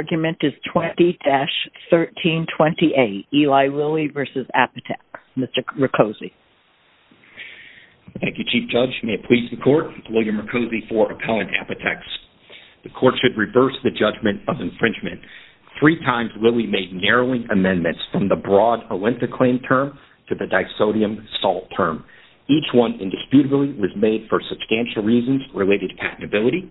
The argument is 20-1328, Eli Lilly v. Apotex. Mr. Mercosi. Thank you, Chief Judge. May it please the Court, William Mercosi for Appellant Apotex. The Court should reverse the judgment of infringement. Three times, Lilly made narrowing amendments from the broad Olenta claim term to the disodium salt term. Each one indisputably was made for substantial reasons related to patentability.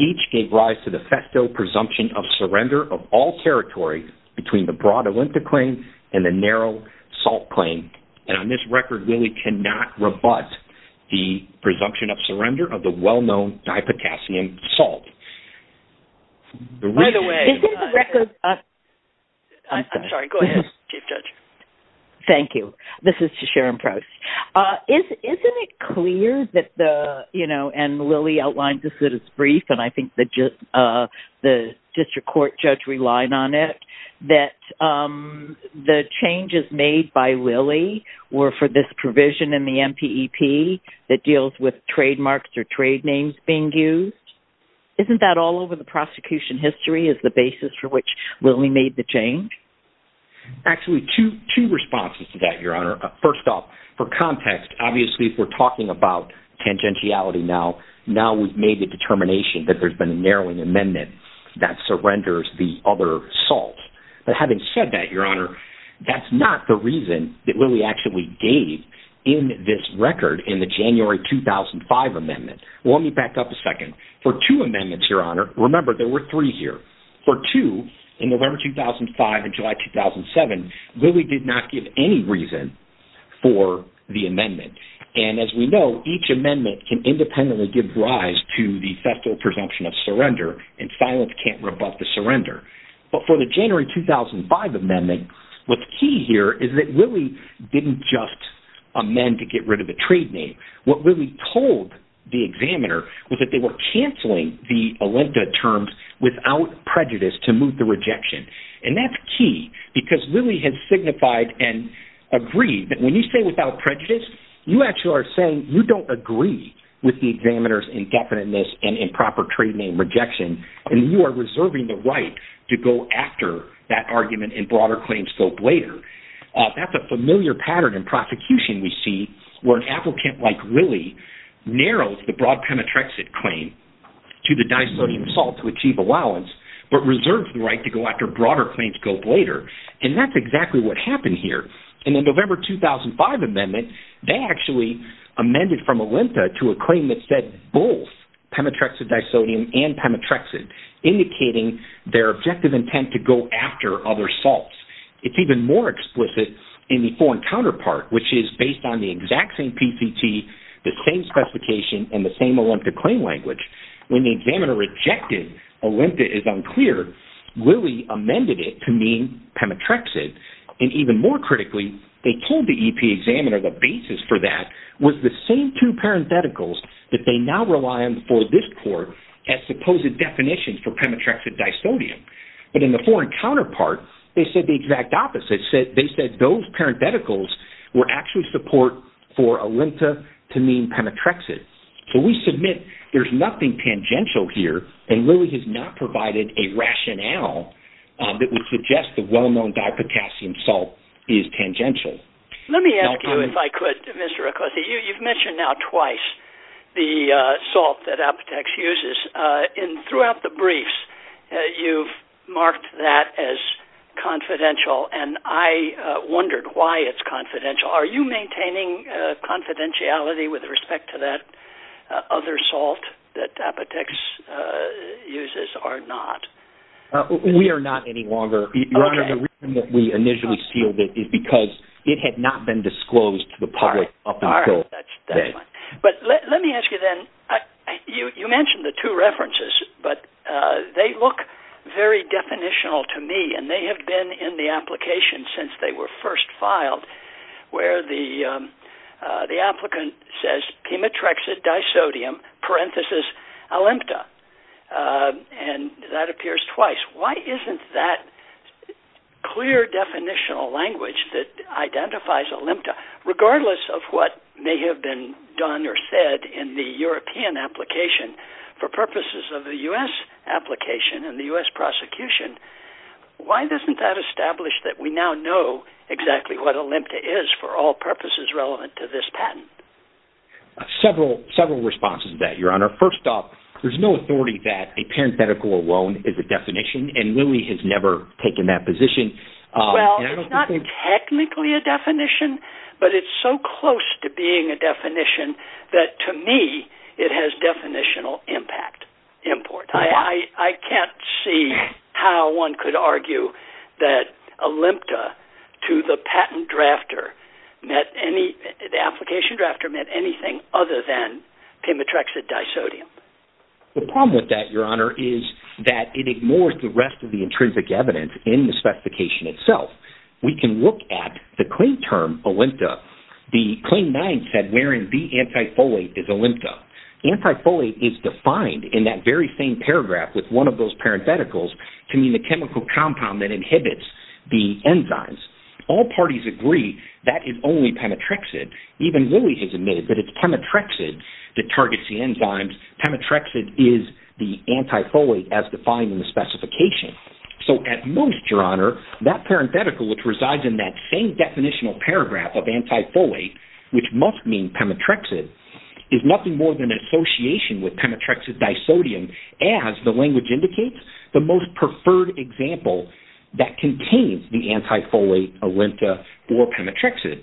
Each gave rise to the festo presumption of surrender of all territory between the broad Olenta claim and the narrow salt claim. And on this record, Lilly cannot rebut the presumption of surrender of the well-known dipotassium salt. By the way, I'm sorry, go ahead, Chief Judge. Thank you. This is to Sharon Proce. Isn't it clear that the, you know, and Lilly outlined this in her brief, and I think the district court judge relied on it, that the changes made by Lilly were for this provision in the MPEP that deals with trademarks or trade names being used? Isn't that all over the prosecution history as the basis for which Lilly made the change? Actually, two responses to that, Your Honor. First off, for context, obviously if we're talking about tangentiality now, now we've made the determination that there's been a narrowing amendment that surrenders the other salt. But having said that, Your Honor, that's not the reason that Lilly actually gave in this record in the January 2005 amendment. Well, let me back up a second. For two amendments, Your Honor, remember there were three here. For two, in November 2005 and July 2007, Lilly did not give any reason for the amendment. And as we know, each amendment can independently give rise to the federal presumption of surrender, and silence can't rebut the surrender. But for the January 2005 amendment, what's key here is that Lilly didn't just amend to get rid of the trade name. What Lilly told the examiner was that they were canceling the Olenta terms without prejudice to move the rejection. And that's key because Lilly has signified and agreed that when you say without prejudice, you actually are saying you don't agree with the examiner's indefiniteness and improper trade name rejection, and you are reserving the right to go after that argument in broader claim scope later. That's a familiar pattern in prosecution we see where an applicant like Lilly narrows the broad pemetrexate claim to the disodium salt to achieve allowance, but reserves the right to go after broader claim scope later. And that's exactly what happened here. And in the November 2005 amendment, they actually amended from Olenta to a claim that said both pemetrexate disodium and pemetrexate, indicating their objective intent to go after other salts. It's even more explicit in the foreign counterpart, which is based on the exact same PCT, the same specification, and the same Olenta claim language. When the examiner rejected Olenta is unclear, Lilly amended it to mean pemetrexate. And even more critically, they told the EPA examiner the basis for that was the same two parentheticals that they now rely on for this court as supposed definitions for pemetrexate disodium. But in the foreign counterpart, they said the exact opposite. They said those parentheticals were actually support for Olenta to mean pemetrexate. So we submit there's nothing tangential here, and Lilly has not provided a rationale that would suggest the well-known dipotassium salt is tangential. Let me ask you, if I could, Mr. Acosta, you've mentioned now twice the salt that Apotex uses. Throughout the briefs, you've marked that as confidential, and I wondered why it's confidential. Are you maintaining confidentiality with respect to that other salt that Apotex uses or not? We are not any longer. The reason that we initially sealed it is because it had not been disclosed to the public up until then. But let me ask you then, you mentioned the two references, but they look very definitional to me, and they have been in the application since they were first filed where the applicant says pemetrexate disodium parenthesis Olenta. And that appears twice. Why isn't that clear definitional language that identifies Olenta, regardless of what may have been done or said in the European application, for purposes of the U.S. application and the U.S. prosecution, why doesn't that establish that we now know exactly what Olenta is for all purposes relevant to this patent? First off, there's no authority that a parenthetical alone is a definition, and Lilly has never taken that position. Well, it's not technically a definition, but it's so close to being a definition that to me it has definitional impact. I can't see how one could argue that Olenta to the patent drafter, the application drafter, meant anything other than pemetrexate disodium. The problem with that, Your Honor, is that it ignores the rest of the intrinsic evidence in the specification itself. We can look at the claim term Olenta. The claim 9 said wherein the antifolate is Olenta. Antifolate is defined in that very same paragraph with one of those parentheticals to mean the chemical compound that inhibits the enzymes. All parties agree that is only pemetrexate. Even Lilly has admitted that it's pemetrexate that targets the enzymes. Pemetrexate is the antifolate as defined in the specification. So, at most, Your Honor, that parenthetical, which resides in that same definitional paragraph of antifolate, which must mean pemetrexate, is nothing more than an association with pemetrexate disodium, as the language indicates, the most preferred example that contains the antifolate Olenta or pemetrexate.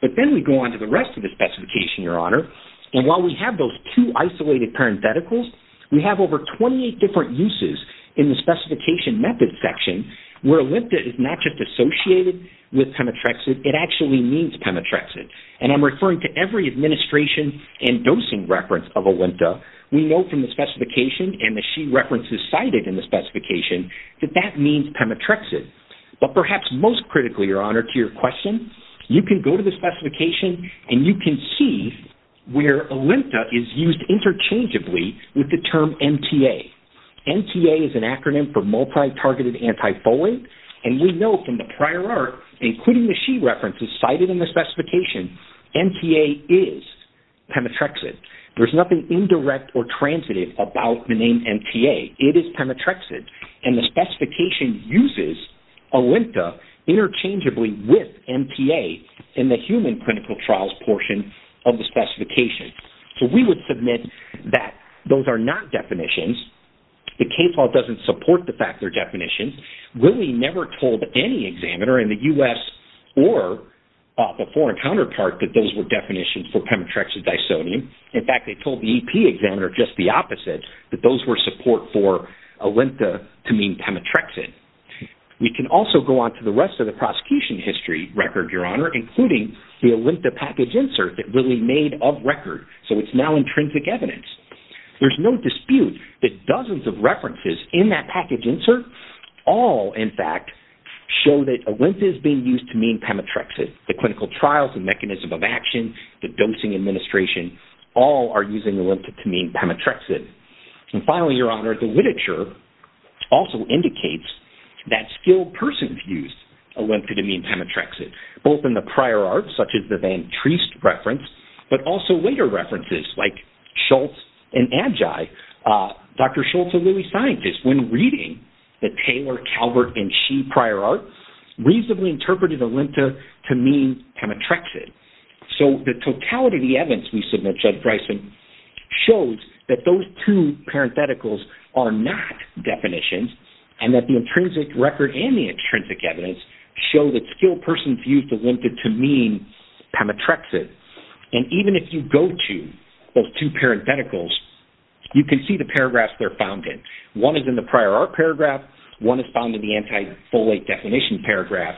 But then we go on to the rest of the specification, Your Honor. And while we have those two isolated parentheticals, we have over 28 different uses in the specification method section where Olenta is not just associated with pemetrexate. It actually means pemetrexate. And I'm referring to every administration and dosing reference of Olenta. We know from the specification and the she references cited in the specification that that means pemetrexate. But perhaps most critically, Your Honor, to your question, you can go to the specification and you can see where Olenta is used interchangeably with the term MTA. MTA is an acronym for multi-targeted antifolate. And we know from the prior art, including the she references cited in the specification, MTA is pemetrexate. There's nothing indirect or transitive about the name MTA. It is pemetrexate. And the specification uses Olenta interchangeably with MTA in the human clinical trials portion of the specification. So we would submit that those are not definitions. The case law doesn't support the fact they're definitions. We never told any examiner in the U.S. or the foreign counterpart that those were definitions for pemetrexate disodium. In fact, they told the EP examiner just the opposite, that those were support for Olenta to mean pemetrexate. We can also go on to the rest of the prosecution history record, Your Honor, including the Olenta package insert that Lilly made of record. So it's now intrinsic evidence. There's no dispute that dozens of references in that package insert all, in fact, show that Olenta is being used to mean pemetrexate. The clinical trials, the mechanism of action, the dosing administration, all are using Olenta to mean pemetrexate. And finally, Your Honor, the literature also indicates that skilled persons use Olenta to mean pemetrexate. Both in the prior art, such as the Van Treest reference, but also later references like Schultz and Adjaye. Dr. Schultz and Lilly scientists, when reading the Taylor, Calvert, and She prior art, reasonably interpreted Olenta to mean pemetrexate. So the totality of the evidence we submit, Judge Bryson, shows that those two parentheticals are not definitions, and that the intrinsic record and the intrinsic evidence show that skilled persons use Olenta to mean pemetrexate. And even if you go to those two parentheticals, you can see the paragraphs they're found in. One is in the prior art paragraph. One is found in the anti-folate definition paragraph.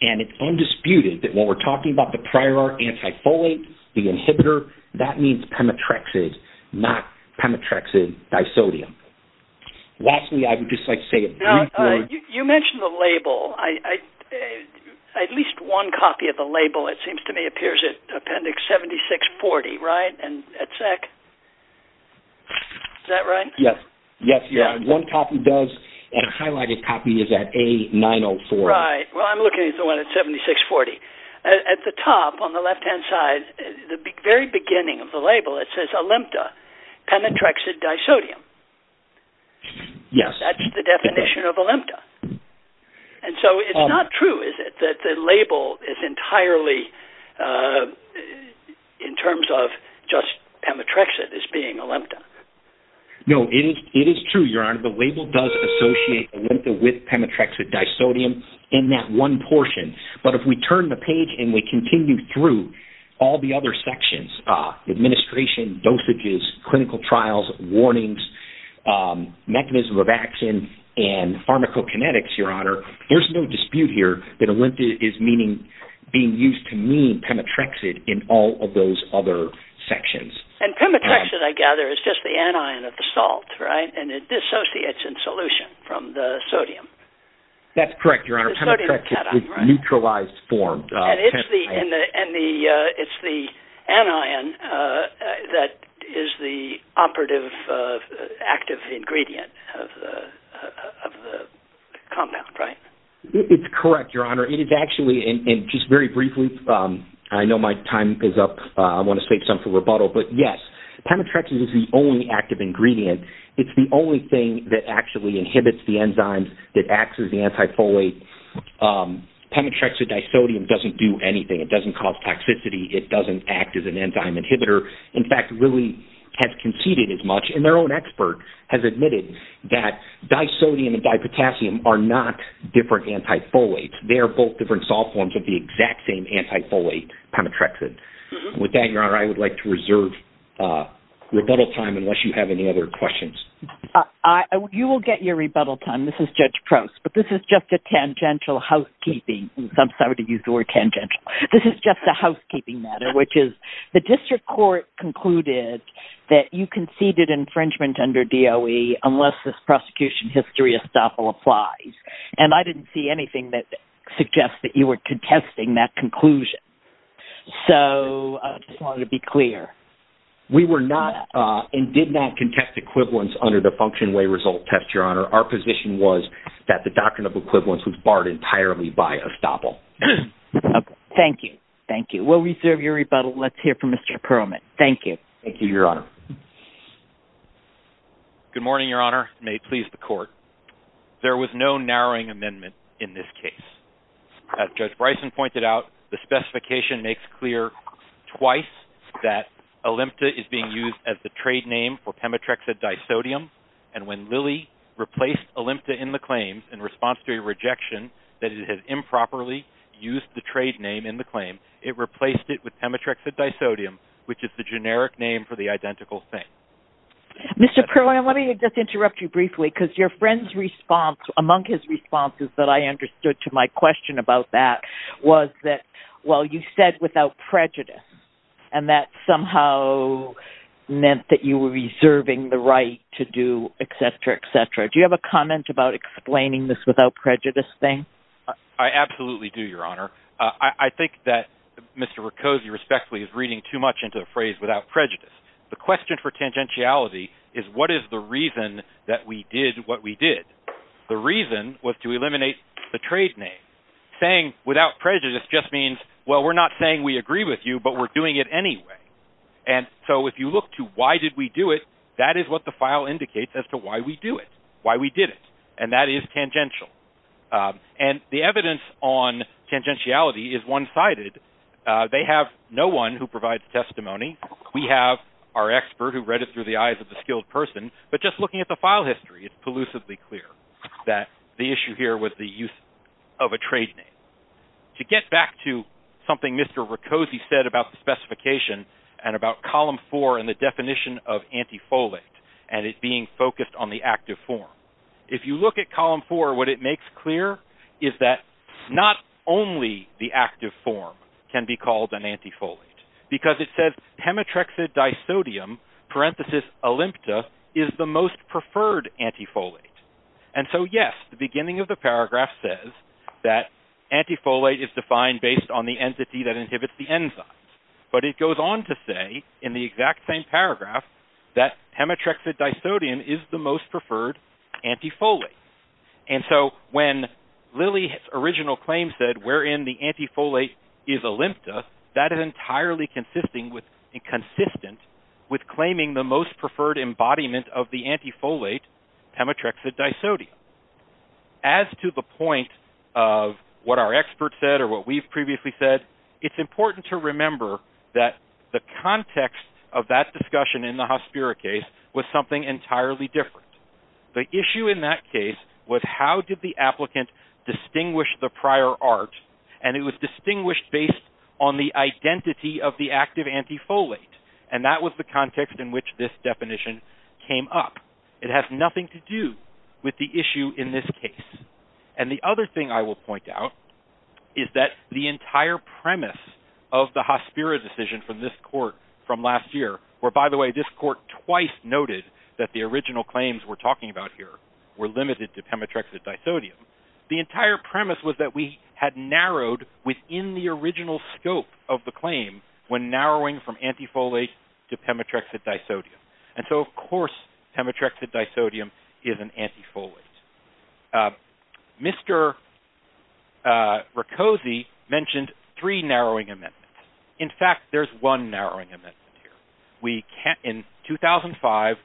And it's undisputed that when we're talking about the prior art anti-folate, the inhibitor, that means pemetrexate, not pemetrexate disodium. Lastly, I would just like to say a brief word. You mentioned the label. At least one copy of the label, it seems to me, appears in Appendix 7640, right? Is that right? Yes. One copy does, and a highlighted copy is at A904. Right. Well, I'm looking at the one at 7640. At the top, on the left-hand side, the very beginning of the label, it says Olenta, pemetrexate disodium. Yes. That's the definition of Olenta. And so it's not true, is it, that the label is entirely in terms of just pemetrexate as being Olenta? No, it is true, Your Honor. The label does associate Olenta with pemetrexate disodium in that one portion. But if we turn the page and we continue through all the other sections, administration, dosages, clinical trials, warnings, mechanism of action, and pharmacokinetics, Your Honor, there's no dispute here that Olenta is being used to mean pemetrexate in all of those other sections. And pemetrexate, I gather, is just the anion of the salt, right? And it dissociates in solution from the sodium. That's correct, Your Honor. Pemetrexate is neutralized form. And it's the anion that is the operative active ingredient of the compound, right? It's correct, Your Honor. It is actually, and just very briefly, I know my time is up. I want to save some for rebuttal. But, yes, pemetrexate is the only active ingredient. It's the only thing that actually inhibits the enzymes that acts as the antifolate. Pemetrexate disodium doesn't do anything. It doesn't cause toxicity. It doesn't act as an enzyme inhibitor. In fact, it really has conceded as much. And their own expert has admitted that disodium and dipotassium are not different antifolates. They are both different salt forms of the exact same antifolate, pemetrexate. With that, Your Honor, I would like to reserve rebuttal time unless you have any other questions. You will get your rebuttal time. This is Judge Prost. But this is just a tangential housekeeping. I'm sorry to use the word tangential. This is just a housekeeping matter, which is the district court concluded that you conceded infringement under DOE unless this prosecution history estoppel applies. And I didn't see anything that suggests that you were contesting that conclusion. So I just wanted to be clear. We were not and did not contest equivalence under the function way result test, Your Honor. Our position was that the doctrine of equivalence was barred entirely by estoppel. Thank you. Thank you. We'll reserve your rebuttal. Let's hear from Mr. Perlman. Thank you. Thank you, Your Honor. Good morning, Your Honor. May it please the court. There was no narrowing amendment in this case. As Judge Bryson pointed out, the specification makes clear twice that Olympta is being used as the trade name for Pemetrexid disodium. And when Lilly replaced Olympta in the claim in response to a rejection that it had improperly used the trade name in the claim, it replaced it with Pemetrexid disodium, which is the generic name for the identical thing. Mr. Perlman, let me just interrupt you briefly because your friend's response, among his responses that I understood to my question about that was that, well, you said without prejudice. And that somehow meant that you were reserving the right to do et cetera, et cetera. Do you have a comment about explaining this without prejudice thing? I absolutely do, Your Honor. I think that Mr. Riccosi respectfully is reading too much into the phrase without prejudice. The question for tangentiality is what is the reason that we did what we did? The reason was to eliminate the trade name. Saying without prejudice just means, well, we're not saying we agree with you, but we're doing it anyway. And so if you look to why did we do it, that is what the file indicates as to why we do it, why we did it. And that is tangential. And the evidence on tangentiality is one-sided. They have no one who provides testimony. We have our expert who read it through the eyes of a skilled person. But just looking at the file history, it's elusively clear that the issue here was the use of a trade name. To get back to something Mr. Riccosi said about the specification and about column four and the definition of antifolate and it being focused on the active form. If you look at column four, what it makes clear is that not only the active form can be called an antifolate. Because it says hematrexid disodium parenthesis olympia is the most preferred antifolate. And so, yes, the beginning of the paragraph says that antifolate is defined based on the entity that inhibits the enzymes. But it goes on to say in the exact same paragraph that hematrexid disodium is the most preferred antifolate. And so when Lilly's original claim said wherein the antifolate is olympia, that is entirely consistent with claiming the most preferred embodiment of the antifolate, hematrexid disodium. As to the point of what our expert said or what we've previously said, it's important to remember that the context of that discussion in the Hospiro case was something entirely different. The issue in that case was how did the applicant distinguish the prior art and it was distinguished based on the identity of the active antifolate. And that was the context in which this definition came up. It has nothing to do with the issue in this case. And the other thing I will point out is that the entire premise of the Hospiro decision from this court from last year where, by the way, this court twice noted that the original claims we're talking about here were limited to hematrexid disodium. The entire premise was that we had narrowed within the original scope of the claim when narrowing from antifolate to hematrexid disodium. And so of course hematrexid disodium is an antifolate. Mr. Riccosi mentioned three narrowing amendments. In fact, there's one narrowing amendment here. In 2005,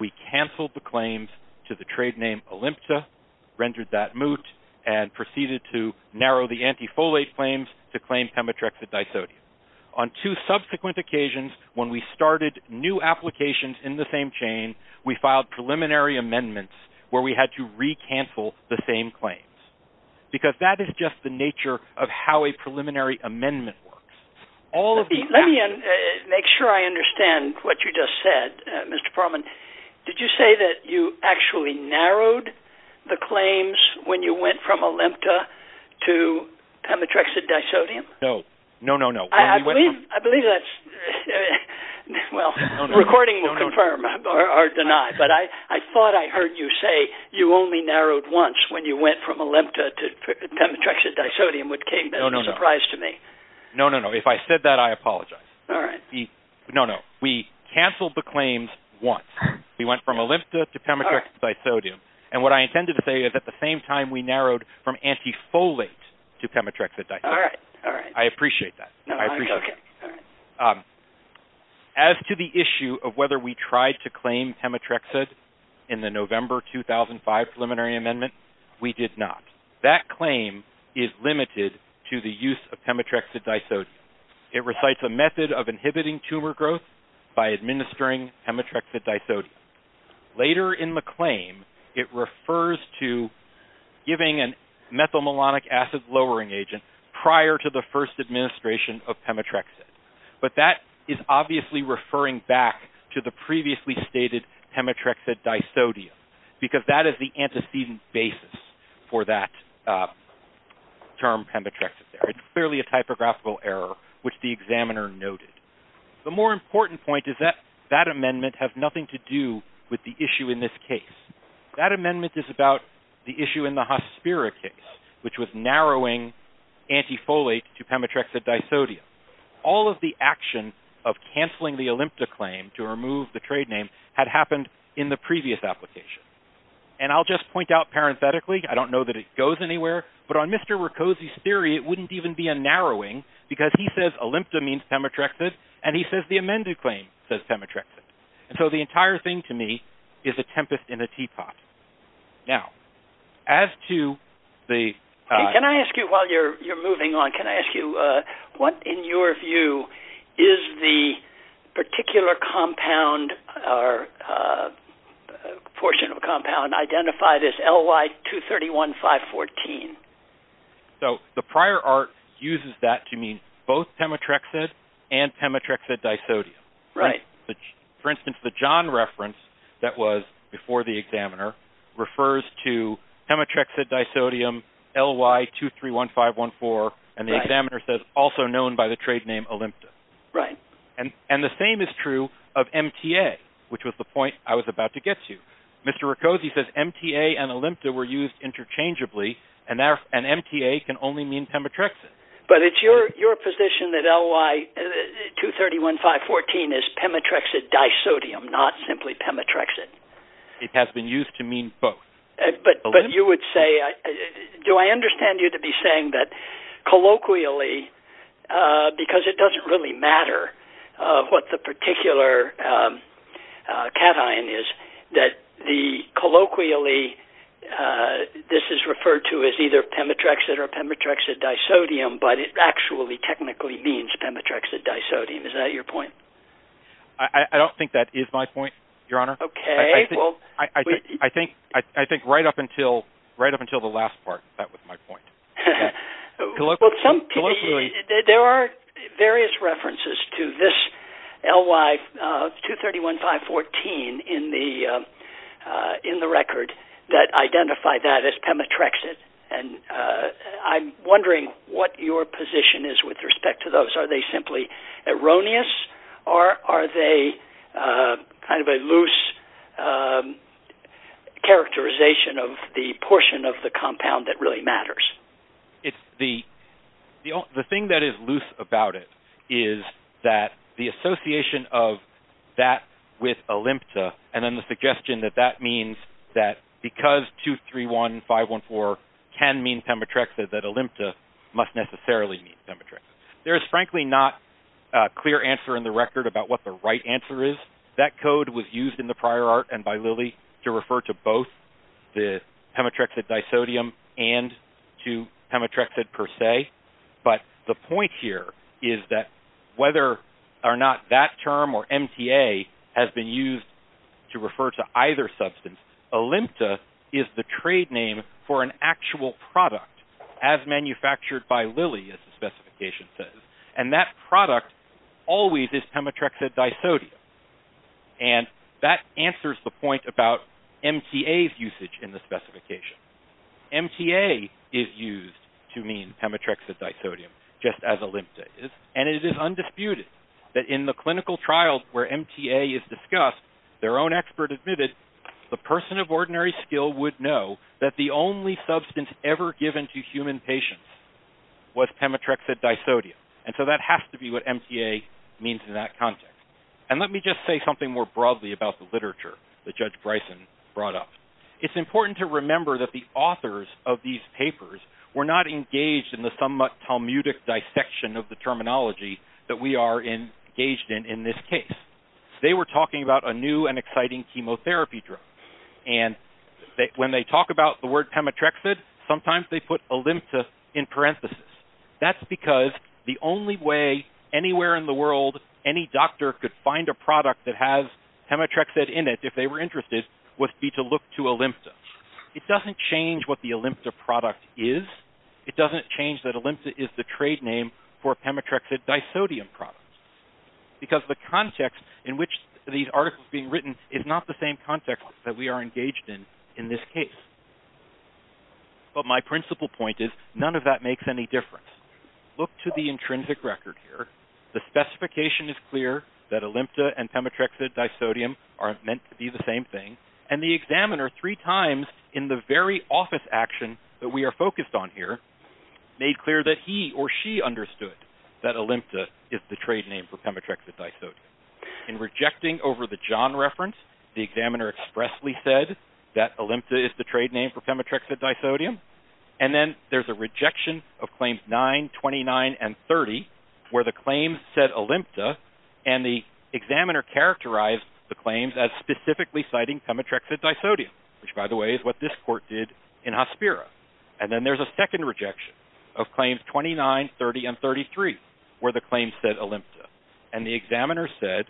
we canceled the claims to the trade name Olympta, rendered that moot, and proceeded to narrow the antifolate claims to claim hematrexid disodium. On two subsequent occasions when we started new applications in the same chain, we filed preliminary amendments where we had to re-cancel the same claims. Because that is just the nature of how a preliminary amendment works. Let me make sure I understand what you just said, Mr. Parman. Did you say that you actually narrowed the claims when you went from Olympta to hematrexid disodium? No, no, no, no. I believe that's, well, the recording will confirm or deny. But I thought I heard you say you only narrowed once when you went from Olympta to hematrexid disodium, which came as a surprise to me. No, no, no. If I said that, I apologize. All right. No, no. We canceled the claims once. We went from Olympta to hematrexid disodium. And what I intended to say is at the same time we narrowed from antifolate to hematrexid disodium. All right, all right. I appreciate that. No, I'm joking. As to the issue of whether we tried to claim hematrexid in the November 2005 preliminary amendment, we did not. That claim is limited to the use of hematrexid disodium. It recites a method of inhibiting tumor growth by administering hematrexid disodium. Later in the claim, it refers to giving a methylmalonic acid lowering agent prior to the first administration of hematrexid. But that is obviously referring back to the previously stated hematrexid disodium because that is the antecedent basis for that term hematrexid. It's clearly a typographical error, which the examiner noted. The more important point is that that amendment has nothing to do with the issue in this case. That amendment is about the issue in the Hospira case, which was narrowing antifolate to hematrexid disodium. All of the action of canceling the Olympta claim to remove the trade name had happened in the previous application. And I'll just point out parenthetically, I don't know that it goes anywhere, but on Mr. Riccosi's theory, it wouldn't even be a narrowing because he says Olympta means hematrexid, and he says the amended claim says hematrexid. And so the entire thing to me is a tempest in a teapot. Now, as to the- Can I ask you, while you're moving on, can I ask you what, in your view, is the particular compound or portion of a compound identified as LY231514? So the prior art uses that to mean both hematrexid and hematrexid disodium. Right. For instance, the John reference that was before the examiner refers to hematrexid disodium LY231514, and the examiner says also known by the trade name Olympta. Right. And the same is true of MTA, which was the point I was about to get to. Mr. Riccosi says MTA and Olympta were used interchangeably, and MTA can only mean hematrexid. But it's your position that LY231514 is hematrexid disodium, not simply hematrexid. It has been used to mean both. But you would say- Do I understand you to be saying that colloquially, because it doesn't really matter what the particular cation is, that colloquially this is referred to as either hematrexid or hematrexid disodium, but it actually technically means hematrexid disodium? Is that your point? I don't think that is my point, Your Honor. Okay. I think right up until the last part, that was my point. There are various references to this LY231514 in the record that identify that as hematrexid, and I'm wondering what your position is with respect to those. Are they simply erroneous, or are they kind of a loose characterization of the portion of the compound that really matters? The thing that is loose about it is that the association of that with olympta, and then the suggestion that that means that because 231514 can mean hematrexid, that olympta must necessarily mean hematrexid. There is frankly not a clear answer in the record about what the right answer is. That code was used in the prior art and by Lilly to refer to both the hematrexid disodium and to hematrexid per se, but the point here is that whether or not that term or MTA has been used to refer to either substance, olympta is the trade name for an actual product as manufactured by Lilly, as the specification says, and that product always is hematrexid disodium, and that answers the point about MTA's usage in the specification. MTA is used to mean hematrexid disodium, just as olympta is, and it is undisputed that in the clinical trials where MTA is discussed, their own expert admitted the person of ordinary skill would know that the only substance ever given to human patients was hematrexid disodium, and so that has to be what MTA means in that context, and let me just say something more broadly about the literature that Judge Bryson brought up. It's important to remember that the authors of these papers were not engaged in the somewhat Talmudic dissection of the terminology that we are engaged in in this case. They were talking about a new and exciting chemotherapy drug, and when they talk about the word hematrexid, sometimes they put olympta in parentheses. That's because the only way anywhere in the world any doctor could find a product that has hematrexid in it, if they were interested, would be to look to olympta. It doesn't change what the olympta product is. It doesn't change that olympta is the trade name for hematrexid disodium products, because the context in which these articles are being written is not the same context that we are engaged in in this case, but my principal point is none of that makes any difference. Look to the intrinsic record here. The specification is clear that olympta and hematrexid disodium are meant to be the same thing, and the examiner three times in the very office action that we are focused on here made clear that he or she understood that olympta is the trade name for hematrexid disodium. In rejecting over the John reference, the examiner expressly said that olympta is the trade name for hematrexid disodium, and then there's a rejection of claims 9, 29, and 30 where the claims said olympta, and the examiner characterized the claims as specifically citing hematrexid disodium, which, by the way, is what this court did in Hospiro. And then there's a second rejection of claims 29, 30, and 33 where the claims said olympta, and the examiner said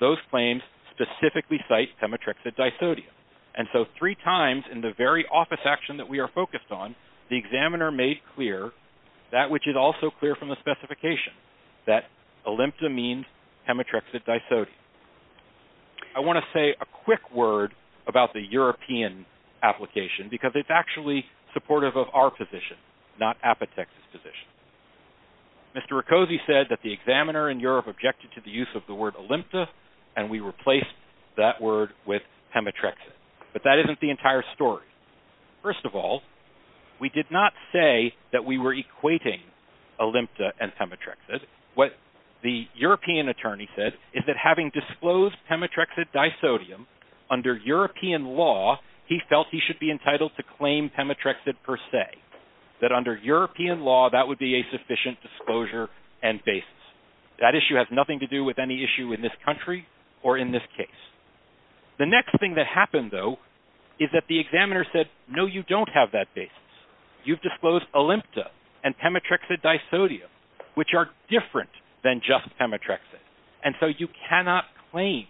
those claims specifically cite hematrexid disodium. And so three times in the very office action that we are focused on, the examiner made clear that which is also clear from the specification, that olympta means hematrexid disodium. I want to say a quick word about the European application, because it's actually supportive of our position, not Apotex's position. Mr. Riccosi said that the examiner in Europe objected to the use of the word olympta, and we replaced that word with hematrexid, but that isn't the entire story. First of all, we did not say that we were equating olympta and hematrexid. What the European attorney said is that having disclosed hematrexid disodium under European law, he felt he should be entitled to claim hematrexid per se, that under European law that would be a sufficient disclosure and basis. That issue has nothing to do with any issue in this country or in this case. The next thing that happened, though, is that the examiner said, no, you don't have that basis. You've disclosed olympta and hematrexid disodium, which are different than just hematrexid. And so you cannot claim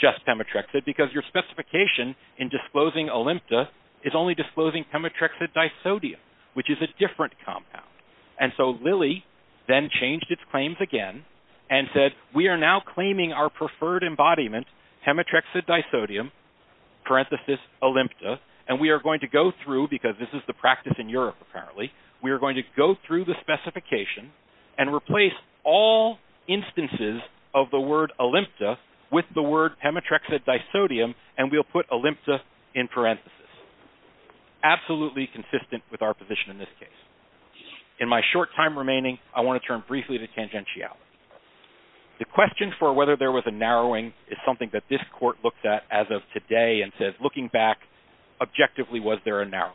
just hematrexid, because your specification in disclosing olympta is only disclosing hematrexid disodium, which is a different compound. And so Lilly then changed its claims again and said, we are now claiming our preferred embodiment, hematrexid disodium, parenthesis olympta, and we are going to go through, because this is the practice in Europe apparently, we are going to go through the specification and replace all instances of the word olympta with the word hematrexid disodium, and we'll put olympta in parenthesis. Absolutely consistent with our position in this case. In my short time remaining, I want to turn briefly to tangentiality. The question for whether there was a narrowing is something that this court looked at as of today and said, looking back, objectively was there a narrowing?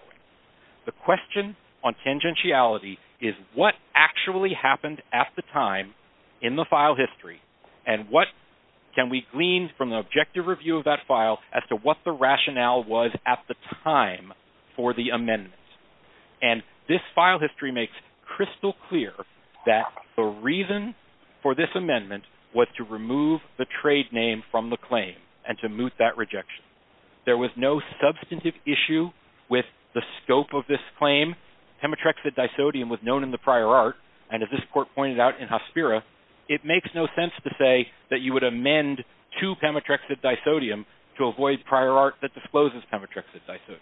The question on tangentiality is what actually happened at the time in the file history, and what can we glean from the objective review of that file as to what the rationale was at the time for the amendment? And this file history makes crystal clear that the reason for this amendment was to remove the trade name from the claim and to moot that rejection. There was no substantive issue with the scope of this claim. Hematrexid disodium was known in the prior art, and as this court pointed out in Hospira, it makes no sense to say that you would amend to hematrexid disodium to avoid prior art that discloses hematrexid disodium.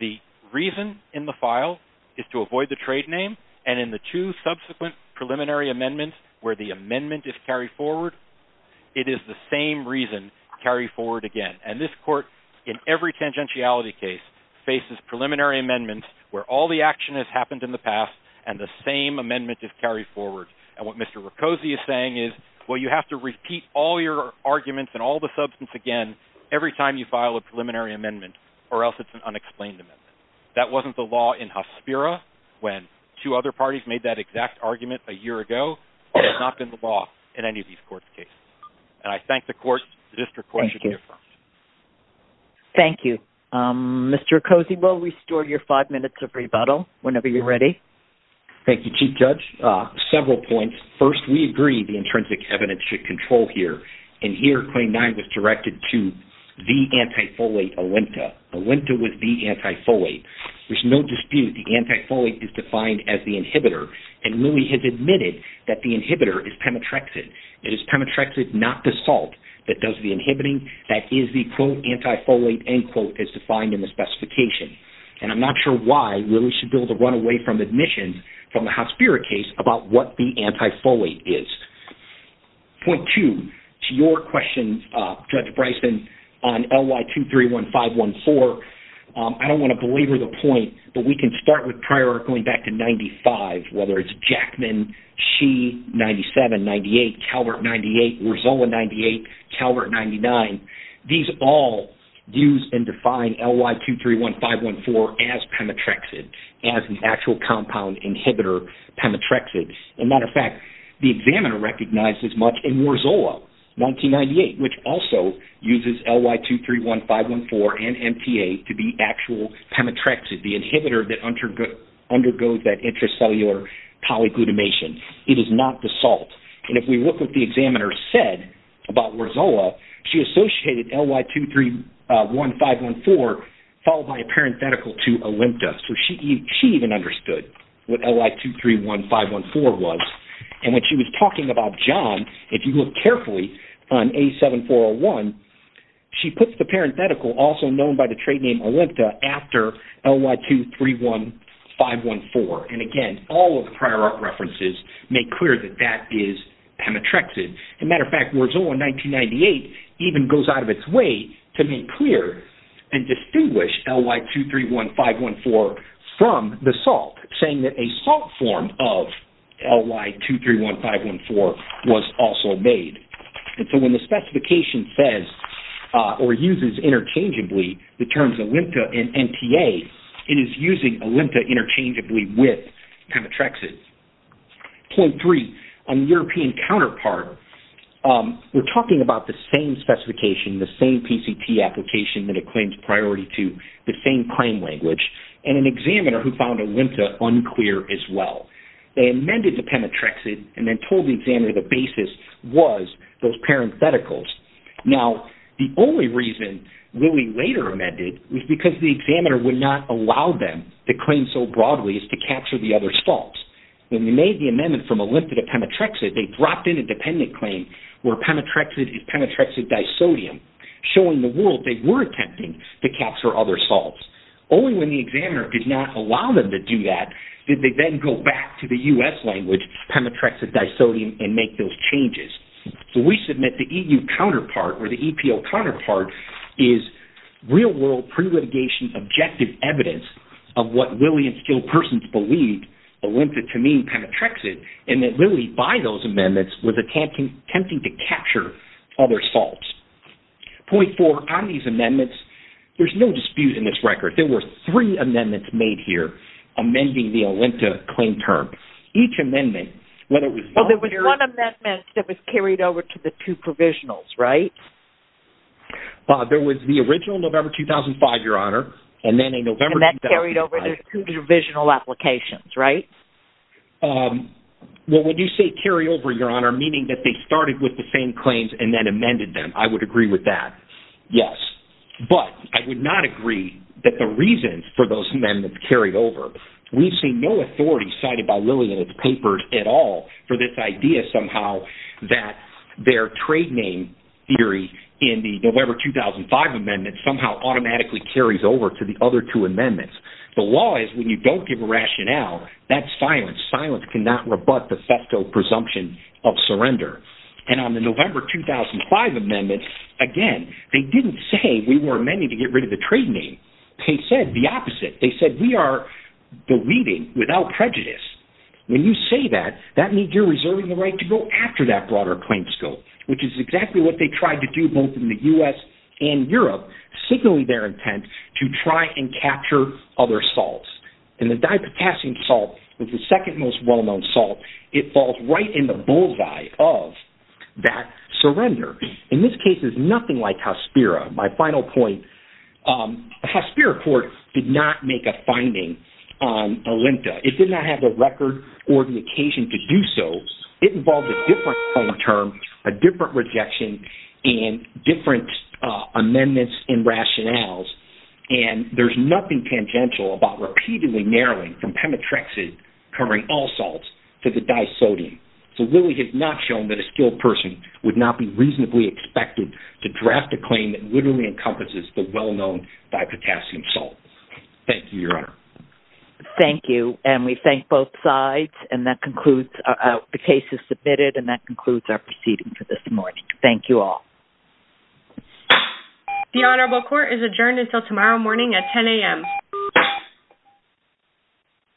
The reason in the file is to avoid the trade name, and in the two subsequent preliminary amendments where the amendment is carried forward, it is the same reason carried forward again. And this court, in every tangentiality case, faces preliminary amendments where all the action has happened in the past and the same amendment is carried forward. And what Mr. Riccosi is saying is, well, you have to repeat all your arguments and all the substance again every time you file a preliminary amendment or else it's an unexplained amendment. That wasn't the law in Hospira when two other parties made that exact argument a year ago. It has not been the law in any of these courts' cases. And I thank the courts. The district court should be affirmed. Thank you. Mr. Riccosi, we'll restore your five minutes of rebuttal whenever you're ready. Thank you, Chief Judge. Several points. First, we agree the intrinsic evidence should control here. In here, Claim 9 was directed to the anti-folate Olenta. Olenta was the anti-folate. There's no dispute the anti-folate is defined as the inhibitor, and Lilly has admitted that the inhibitor is pemetrexid. It is pemetrexid, not the salt, that does the inhibiting. That is the, quote, anti-folate, end quote, as defined in the specification. And I'm not sure why Lilly should build a runaway from admission from the Hospira case about what the anti-folate is. Point two, to your question, Judge Bryson, on LY231514, I don't want to belabor the point, but we can start with prior going back to 95, whether it's Jackman, She, 97, 98, Calvert, 98, Rizola, 98, Calvert, 99. These all use and define LY231514 as pemetrexid, as an actual compound inhibitor, pemetrexid. As a matter of fact, the examiner recognized this much in Rizola, 1998, which also uses LY231514 and MTA to be actual pemetrexid, the inhibitor that undergoes that intracellular polyglutamation. It is not the salt. And if we look at what the examiner said about Rizola, she associated LY231514 followed by a parenthetical to Olympda. So she even understood what LY231514 was. And when she was talking about John, if you look carefully on A7401, she puts the parenthetical, also known by the trade name Olympda, after LY231514. And again, all of the prior art references make clear that that is pemetrexid. As a matter of fact, Rizola, 1998, even goes out of its way to make clear and distinguish LY231514 from the salt, saying that a salt form of LY231514 was also made. And so when the specification says or uses interchangeably the terms Olympda and MTA, it is using Olympda interchangeably with pemetrexid. Point three, on the European counterpart, we're talking about the same specification, the same PCT application that it claims priority to, the same claim language, and an examiner who found Olympda unclear as well. They amended the pemetrexid and then told the examiner the basis was those parentheticals. Now, the only reason LY later amended was because the examiner would not allow them to claim so broadly as to capture the other salts. When they made the amendment from Olympda to pemetrexid, they dropped in a dependent claim where pemetrexid is pemetrexid disodium, showing the world they were attempting to capture other salts. Only when the examiner did not allow them to do that did they then go back to the U.S. language, pemetrexid disodium, and make those changes. So we submit the EU counterpart or the EPO counterpart is real-world pre-litigation objective evidence of what Lillian skilled persons believed Olympda to mean pemetrexid, and that Lillian, by those amendments, was attempting to capture other salts. Point four, on these amendments, there's no dispute in this record. There were three amendments made here amending the Olympda claim term. Each amendment, whether it was... Well, there was one amendment that was carried over to the two provisionals, right? Bob, there was the original November 2005, Your Honor, and then a November 2005... And that carried over to two provisional applications, right? Well, when you say carry over, Your Honor, meaning that they started with the same claims and then amended them, I would agree with that, yes. But I would not agree that the reasons for those amendments carried over. We see no authority cited by Lillian in the papers at all for this idea somehow that their trade name theory in the November 2005 amendments somehow automatically carries over to the other two amendments. The law is when you don't give a rationale, that's silence. Silence cannot rebut the thefto presumption of surrender. And on the November 2005 amendments, again, they didn't say we were amending to get rid of the trade name. They said the opposite. They said we are deleting without prejudice. When you say that, that means you're reserving the right to go after that broader claims scope, which is exactly what they tried to do both in the U.S. and Europe, signaling their intent to try and capture other salts. And the dipotassium salt is the second most well-known salt. It falls right in the bullseye of that surrender. In this case, it's nothing like Hospira. My final point, the Hospira court did not make a finding on Olinta. It did not have the record or the occasion to do so. It involved a different term, a different rejection, and different amendments and rationales, and there's nothing tangential about repeatedly narrowing from Pemetrexid covering all salts to the disodium. So really it's not shown that a skilled person would not be reasonably expected to draft a claim that literally encompasses the well-known dipotassium salt. Thank you, Your Honor. Thank you, and we thank both sides. The case is submitted, and that concludes our proceeding for this morning. Thank you all. The Honorable Court is adjourned until tomorrow morning at 10 a.m.